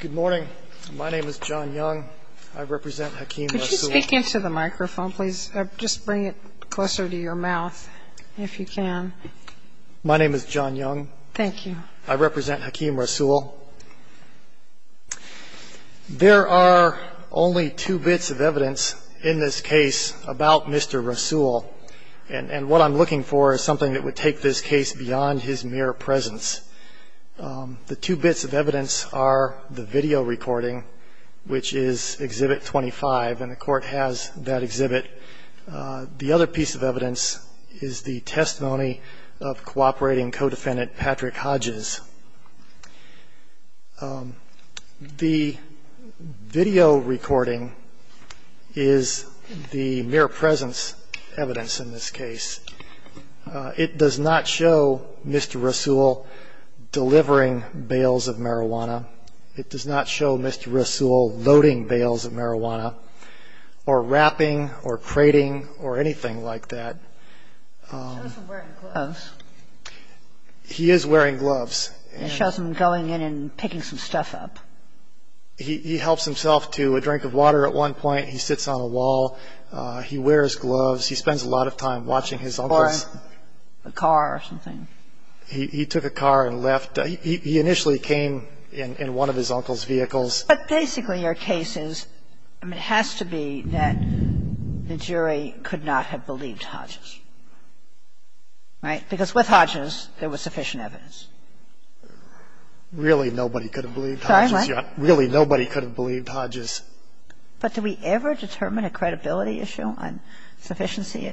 Good morning. My name is John Young. I represent Hakim Rasul. Could you speak into the microphone, please? Just bring it closer to your mouth, if you can. My name is John Young. Thank you. I represent Hakim Rasul. There are only two bits of evidence in this case about Mr. Rasul, and what I'm looking for is something that would take this case beyond his mere presence. The two bits of evidence are the video recording, which is Exhibit 25, and the Court has that exhibit. The other piece of evidence is the testimony of cooperating co-defendant Patrick Hodges. The video recording is the mere presence evidence in this case. It does not show Mr. Rasul delivering bales of marijuana. It does not show Mr. Rasul loading bales of marijuana or wrapping or crating or anything like that. He shows him wearing gloves. He is wearing gloves. He shows him going in and picking some stuff up. He helps himself to a drink of water at one point. He sits on a wall. He wears gloves. He spends a lot of time watching his uncles. Or a car or something. He took a car and left. He initially came in one of his uncle's vehicles. But basically your case is, I mean, it has to be that the jury could not have believed Hodges, right? Because with Hodges, there was sufficient evidence. Really, nobody could have believed Hodges. Sorry, what? Really, nobody could have believed Hodges. But do we ever determine a credibility issue on sufficiency,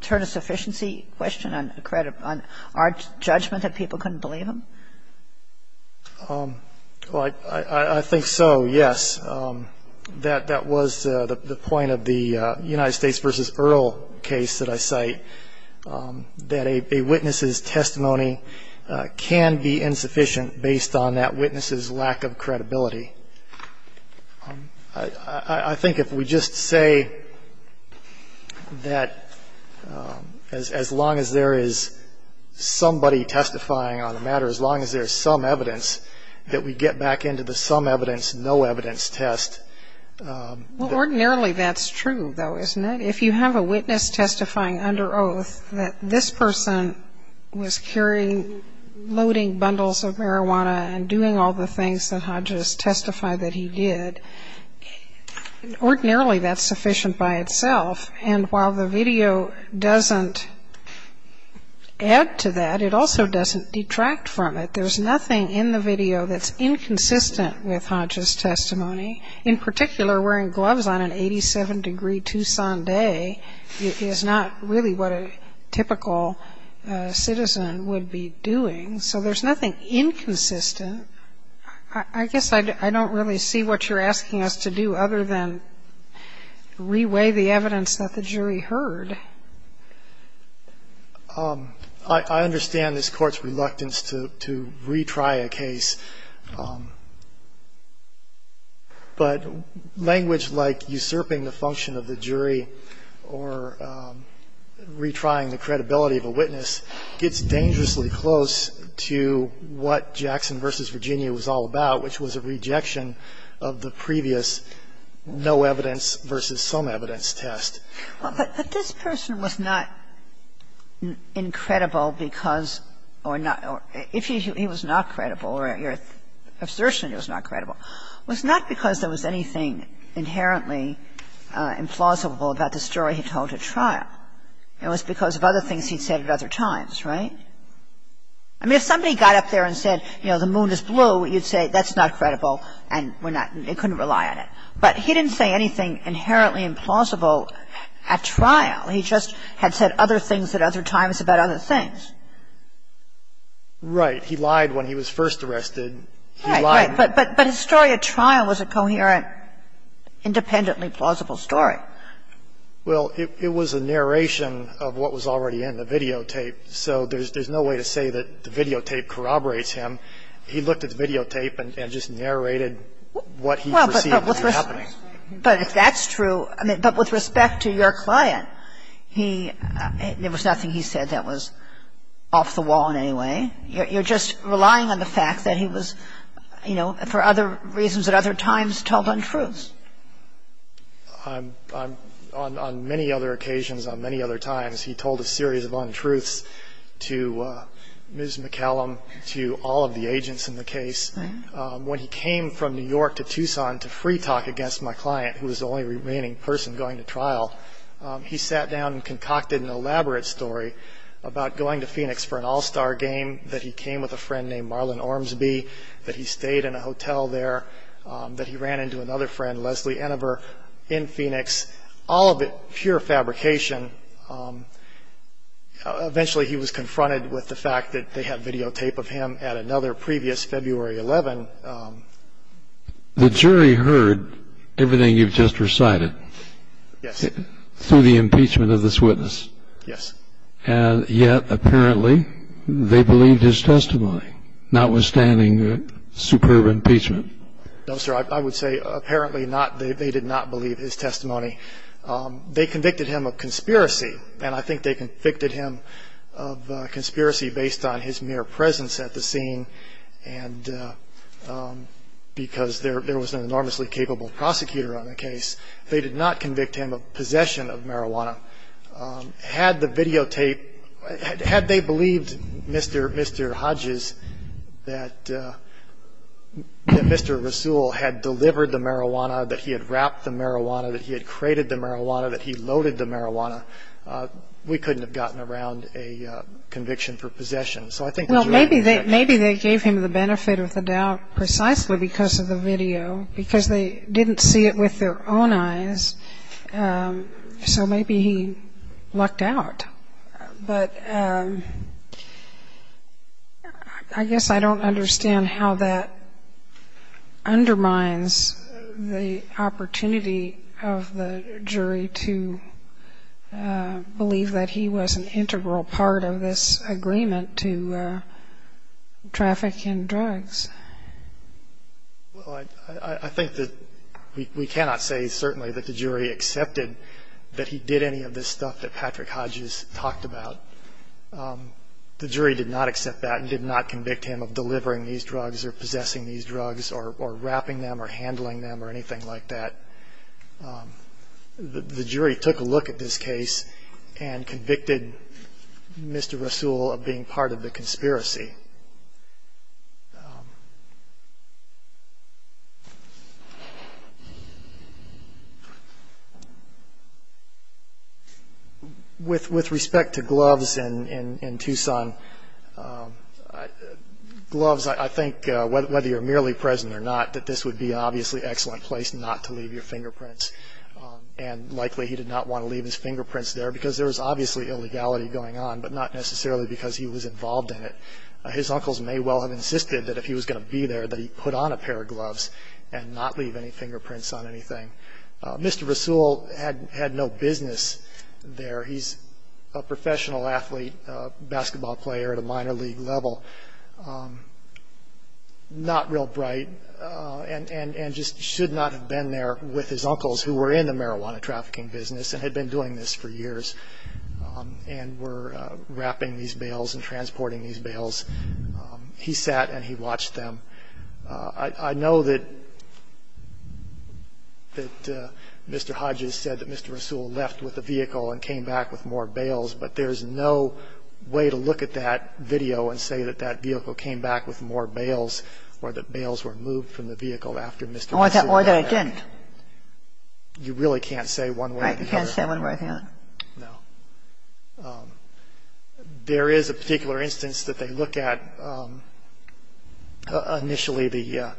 turn a sufficiency question on our judgment that people couldn't believe him? I think so, yes. That was the point of the United States v. Earl case that I cite, that a witness's testimony can be insufficient based on that witness's lack of credibility. I think if we just say that as long as there is somebody testifying on the matter, as long as there's some evidence, that we get back into the some evidence, no evidence test. Well, ordinarily that's true, though, isn't it? If you have a witness testifying under oath that this person was carrying, loading bundles of marijuana and doing all the things that Hodges testified that he did, ordinarily that's sufficient by itself. And while the video doesn't add to that, it also doesn't detract from it. There's nothing in the video that's inconsistent with Hodges' testimony. In particular, wearing gloves on an 87-degree Tucson day is not really what a typical citizen would be doing. So there's nothing inconsistent. I guess I don't really see what you're asking us to do other than reweigh the evidence that the jury heard. I understand this Court's reluctance to retry a case. But language like usurping the function of the jury or retrying the credibility of a witness gets dangerously close to what Jackson v. Virginia was all about, which was a rejection of the previous no evidence versus some evidence test. But this person was not incredible because or if he was not credible or your assertion he was not credible, was not because there was anything inherently implausible about the story he told at trial. It was because of other things he'd said at other times, right? I mean, if somebody got up there and said, you know, the moon is blue, you'd say that's not credible and we're not, you couldn't rely on it. But he didn't say anything inherently implausible at trial. He just had said other things at other times about other things. Right. He lied when he was first arrested. Right, right. But his story at trial was a coherent, independently plausible story. Well, it was a narration of what was already in the videotape. So there's no way to say that the videotape corroborates him. He looked at the videotape and just narrated what he perceived to be happening. But if that's true, I mean, but with respect to your client, he, there was nothing he said that was off the wall in any way. You're just relying on the fact that he was, you know, for other reasons at other times told untruths. On many other occasions, on many other times, he told a series of untruths to Ms. McCallum, to all of the agents in the case. Right. When he came from New York to Tucson to free talk against my client, who was the only remaining person going to trial, he sat down and concocted an elaborate story about going to Phoenix for an All-Star game, that he came with a friend named Marlon Ormsby, that he stayed in a hotel there, that he ran into another friend, Leslie Enever, in Phoenix. All of it pure fabrication. Eventually, he was confronted with the fact that they had videotape of him at another previous February 11. The jury heard everything you've just recited. Yes. Through the impeachment of this witness. Yes. And yet, apparently, they believed his testimony, notwithstanding superb impeachment. No, sir, I would say apparently not. They did not believe his testimony. They convicted him of conspiracy. And I think they convicted him of conspiracy based on his mere presence at the scene. And because there was an enormously capable prosecutor on the case, they did not convict him of possession of marijuana. Had the videotape, had they believed Mr. Hodges, that Mr. Rasool had delivered the marijuana, that he had wrapped the marijuana, that he had crated the marijuana, that he loaded the marijuana, we couldn't have gotten around a conviction for possession. Well, maybe they gave him the benefit of the doubt precisely because of the video, because they didn't see it with their own eyes. So maybe he lucked out. But I guess I don't understand how that undermines the opportunity of the jury to believe that he was an integral part of this agreement to traffic in drugs. Well, I think that we cannot say certainly that the jury accepted that he did any of this stuff that Patrick Hodges talked about. The jury did not accept that and did not convict him of delivering these drugs or possessing these drugs or wrapping them or handling them or anything like that. The jury took a look at this case and convicted Mr. Rasool of being part of the conspiracy. With respect to gloves in Tucson, gloves, I think, whether you're merely present or not, that this would be obviously an excellent place not to leave your fingerprints. And likely he did not want to leave his fingerprints there because there was obviously illegality going on, but not necessarily because he was involved in it. His uncles may well have insisted that if he was going to be there that he put on a pair of gloves and not leave any fingerprints on anything. Mr. Rasool had no business there. He's a professional athlete, a basketball player at a minor league level. Not real bright and just should not have been there with his uncles who were in the marijuana trafficking business and had been doing this for years and were wrapping these bales and transporting these bales. He sat and he watched them. I know that Mr. Hodges said that Mr. Rasool left with a vehicle and came back with more bales or that bales were moved from the vehicle after Mr. Rasool came back. Or that he didn't. You really can't say one way or the other. Right, you can't say one way or the other. No. There is a particular instance that they looked at. Initially, the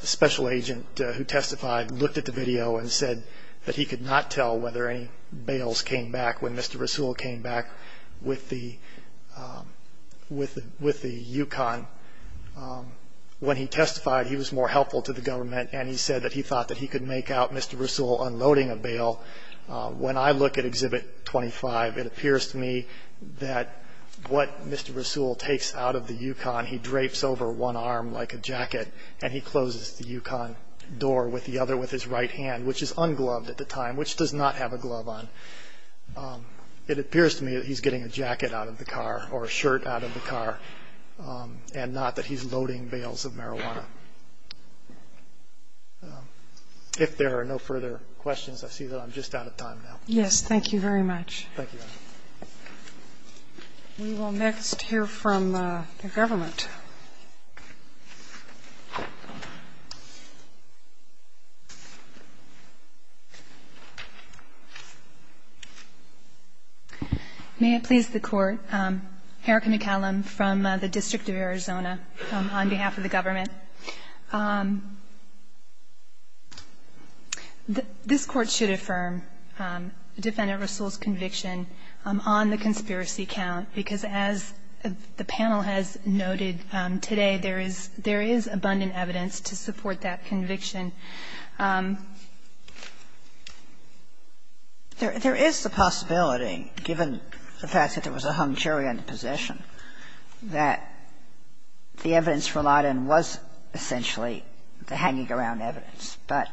special agent who testified looked at the video and said that he could not tell whether any bales came back when Mr. Rasool came back with the Yukon. When he testified, he was more helpful to the government and he said that he thought that he could make out Mr. Rasool unloading a bale. When I look at Exhibit 25, it appears to me that what Mr. Rasool takes out of the Yukon, he drapes over one arm like a jacket and he closes the Yukon door with the other with his right hand, which is ungloved at the time, which does not have a glove on. It appears to me that he's getting a jacket out of the car or a shirt out of the car and not that he's loading bales of marijuana. If there are no further questions, I see that I'm just out of time now. Yes, thank you very much. Thank you. We will next hear from the government. May it please the Court. Erica McCallum from the District of Arizona on behalf of the government. This Court should affirm Defendant Rasool's conviction on the conspiracy count, because as the panel has noted today, there is abundant evidence to support that conviction. There is the possibility, given the fact that there was a hung jury on the position, that the evidence relied on was essentially the hanging around evidence. But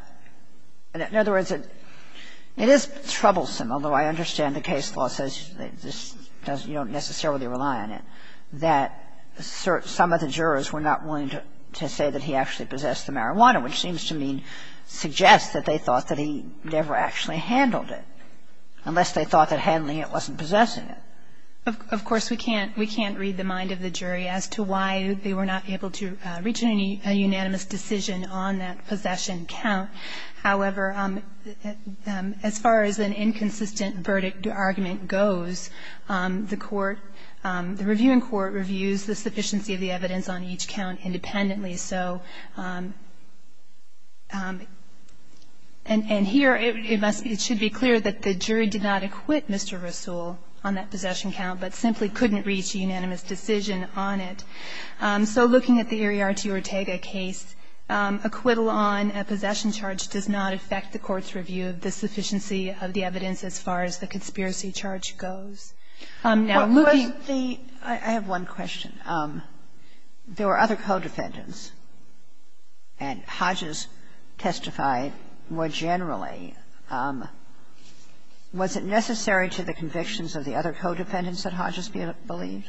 in other words, it is troublesome, although I understand the case law says you don't necessarily rely on it, that some of the jurors were not willing to say that he actually possessed the marijuana, which seems to suggest that they thought that he never actually handled it, unless they thought that handling it wasn't possessing it. Of course, we can't read the mind of the jury as to why they were not able to reach a unanimous decision on that possession count. However, as far as an inconsistent verdict argument goes, the court, the reviewing court reviews the sufficiency of the evidence on each count independently. So and here it must be, it should be clear that the jury did not acquit Mr. Rasool on that possession count, but simply couldn't reach a unanimous decision on it. So looking at the Eriarty-Ortega case, acquittal on a possession charge does not affect the court's review of the sufficiency of the evidence as far as the conspiracy charge goes. Now, moving to the other defendants, and Hodges testified more generally, was it necessary to the convictions of the other co-defendants that Hodges believed?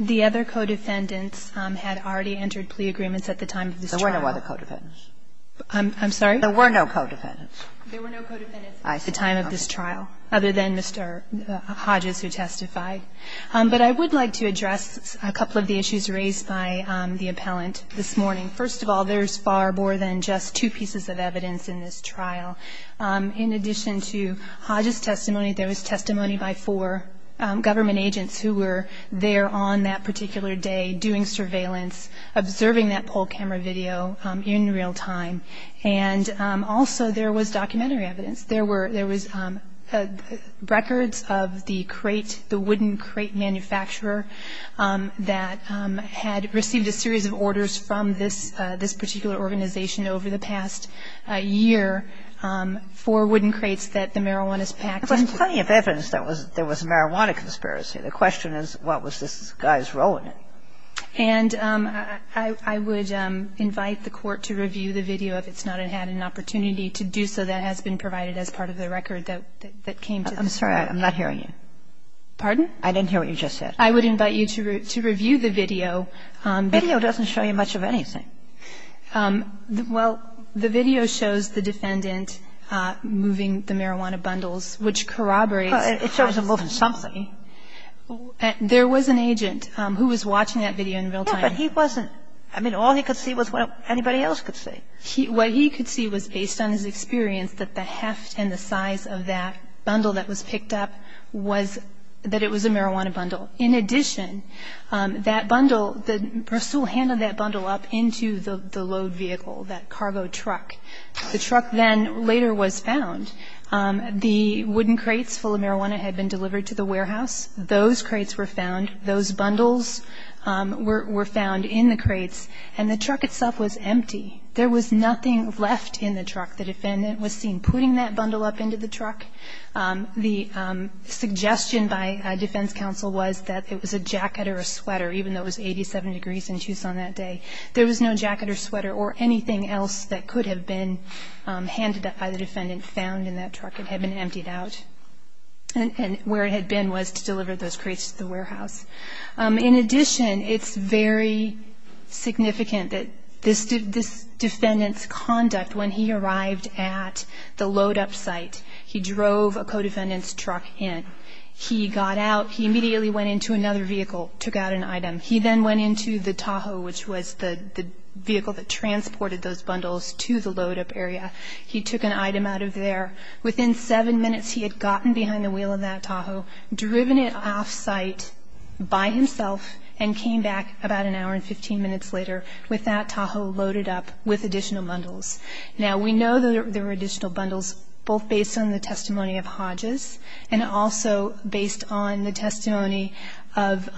The other co-defendants had already entered plea agreements at the time of this trial. There were no other co-defendants. I'm sorry? There were no co-defendants. There were no co-defendants at the time of this trial, other than Mr. Eriarty. There were Hodges who testified. But I would like to address a couple of the issues raised by the appellant this morning. First of all, there's far more than just two pieces of evidence in this trial. In addition to Hodges' testimony, there was testimony by four government agents who were there on that particular day doing surveillance, observing that poll camera video in real time. And also there was documentary evidence. There were records of the crate, the wooden crate manufacturer that had received a series of orders from this particular organization over the past year for wooden crates that the marijuana is packed into. There was plenty of evidence that there was a marijuana conspiracy. The question is, what was this guy's role in it? And I would invite the Court to review the video. If it's not, it had an opportunity to do so. That has been provided as part of the record that came to this Court. I'm sorry. I'm not hearing you. Pardon? I didn't hear what you just said. I would invite you to review the video. The video doesn't show you much of anything. Well, the video shows the defendant moving the marijuana bundles, which corroborates It shows him moving something. There was an agent who was watching that video in real time. Yes, but he wasn't. I mean, all he could see was what anybody else could see. What he could see was, based on his experience, that the heft and the size of that bundle that was picked up was that it was a marijuana bundle. In addition, that bundle, the person who handed that bundle up into the load vehicle, that cargo truck, the truck then later was found. The wooden crates full of marijuana had been delivered to the warehouse. Those crates were found. Those bundles were found in the crates. And the truck itself was empty. There was nothing left in the truck. The defendant was seen putting that bundle up into the truck. The suggestion by defense counsel was that it was a jacket or a sweater, even though it was 87 degrees in Tucson that day. There was no jacket or sweater or anything else that could have been handed up by the defendant found in that truck. It had been emptied out. And where it had been was to deliver those crates to the warehouse. In addition, it's very significant that this defendant's conduct, when he arrived at the load-up site, he drove a co-defendant's truck in. He got out. He immediately went into another vehicle, took out an item. He then went into the Tahoe, which was the vehicle that transported those bundles to the load-up area. He took an item out of there. Within seven minutes, he had gotten behind the wheel of that Tahoe, driven it off-site by himself, and came back about an hour and 15 minutes later with that Tahoe loaded up with additional bundles. Now, we know that there were additional bundles both based on the testimony of Hodges and also based on the testimony of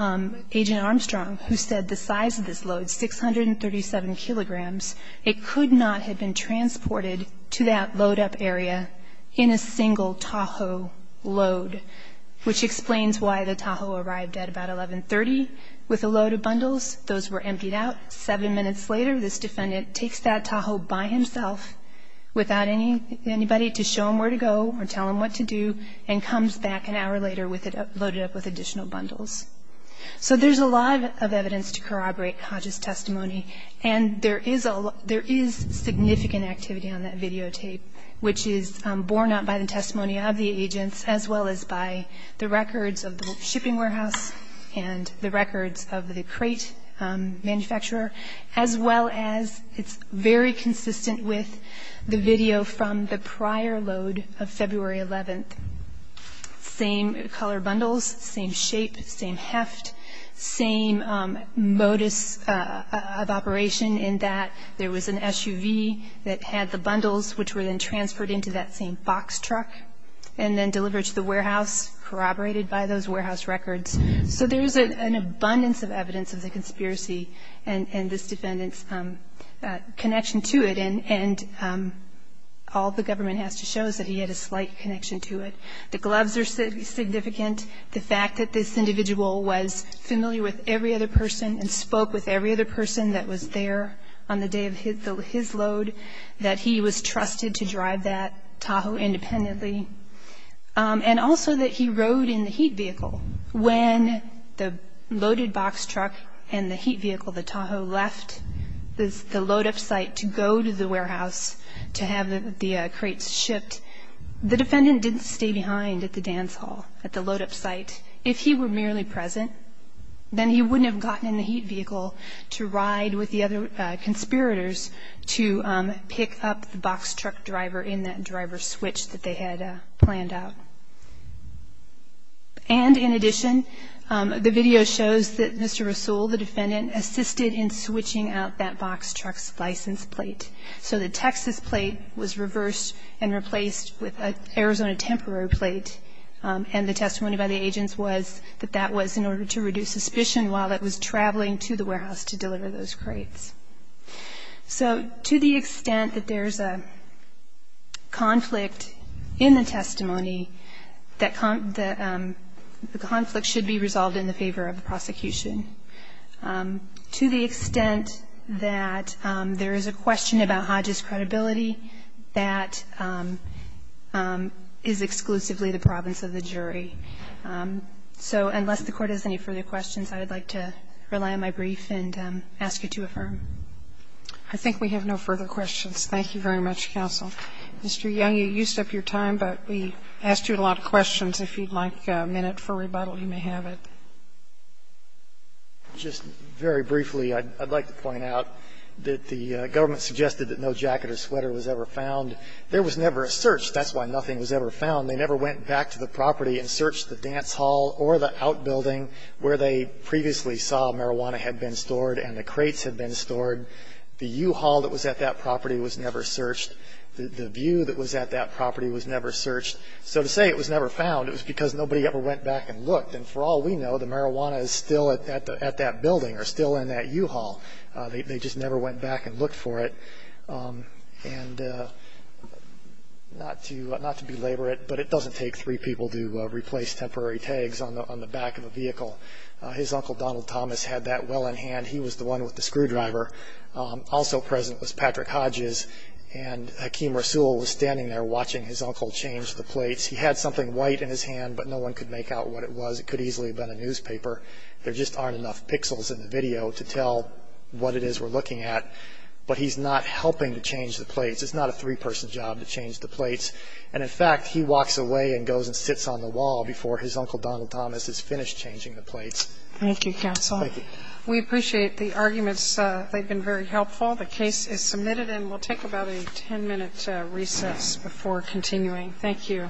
Agent Armstrong, who said the size of this load, 637 kilograms, it could not have been transported to that load-up area in a single Tahoe load. Which explains why the Tahoe arrived at about 1130 with a load of bundles. Those were emptied out. Seven minutes later, this defendant takes that Tahoe by himself, without anybody to show him where to go or tell him what to do, and comes back an hour later loaded up with additional bundles. So there's a lot of evidence to corroborate Hodges' testimony, and there is significant activity on that videotape, which is borne out by the testimony of the agents as well as by the records of the shipping warehouse and the records of the crate manufacturer, as well as it's very consistent with the video from the prior load of February 11th. Same color bundles, same shape, same heft, same modus of operation in that there was an SUV that had the bundles, which were then transferred into that same box truck and then delivered to the warehouse, corroborated by those warehouse records. So there is an abundance of evidence of the conspiracy and this defendant's connection to it, and all the government has to show is that he had a slight connection to it. The gloves are significant. The fact that this individual was familiar with every other person and spoke with every other person that was there on the day of his load, that he was trusted to drive that Tahoe independently, and also that he rode in the heat vehicle. When the loaded box truck and the heat vehicle, the Tahoe, left the load-up site to go to the warehouse to have the crates shipped, the defendant didn't stay behind at the dance hall at the load-up site. If he were merely present, then he wouldn't have gotten in the heat vehicle to ride with the other conspirators to pick up the box truck driver in that driver's switch that they had planned out. And in addition, the video shows that Mr. Rasool, the defendant, assisted in switching out that box truck's license plate. So the Texas plate was reversed and replaced with an Arizona temporary plate, and the testimony by the agents was that that was in order to reduce suspicion while it was traveling to the warehouse to deliver those crates. So to the extent that there's a conflict in the testimony, that the conflict should be resolved in the favor of the prosecution. To the extent that there is a question about Hodges' credibility, that is exclusively the province of the jury. So unless the Court has any further questions, I would like to rely on my brief and ask you to affirm. I think we have no further questions. Thank you very much, counsel. Mr. Young, you used up your time, but we asked you a lot of questions. If you'd like a minute for rebuttal, you may have it. Just very briefly, I'd like to point out that the government suggested that no jacket or sweater was ever found. There was never a search. That's why nothing was ever found. They never went back to the property and searched the dance hall or the outbuilding where they previously saw marijuana had been stored and the crates had been stored. The U-Haul that was at that property was never searched. The view that was at that property was never searched. So to say it was never found, it was because nobody ever went back and looked. And for all we know, the marijuana is still at that building or still in that U-Haul. They just never went back and looked for it. And not to belabor it, but it doesn't take three people to replace temporary tags on the back of a vehicle. His uncle Donald Thomas had that well in hand. He was the one with the screwdriver. Also present was Patrick Hodges, and Hakeem Rasool was standing there watching his uncle change the plates. He had something white in his hand, but no one could make out what it was. It could easily have been a newspaper. There just aren't enough pixels in the video to tell what it is we're looking at. But he's not helping to change the plates. It's not a three-person job to change the plates. And, in fact, he walks away and goes and sits on the wall before his uncle Donald Thomas is finished changing the plates. Thank you, counsel. Thank you. We appreciate the arguments. They've been very helpful. The case is submitted, and we'll take about a 10-minute recess before continuing. Thank you. All rise.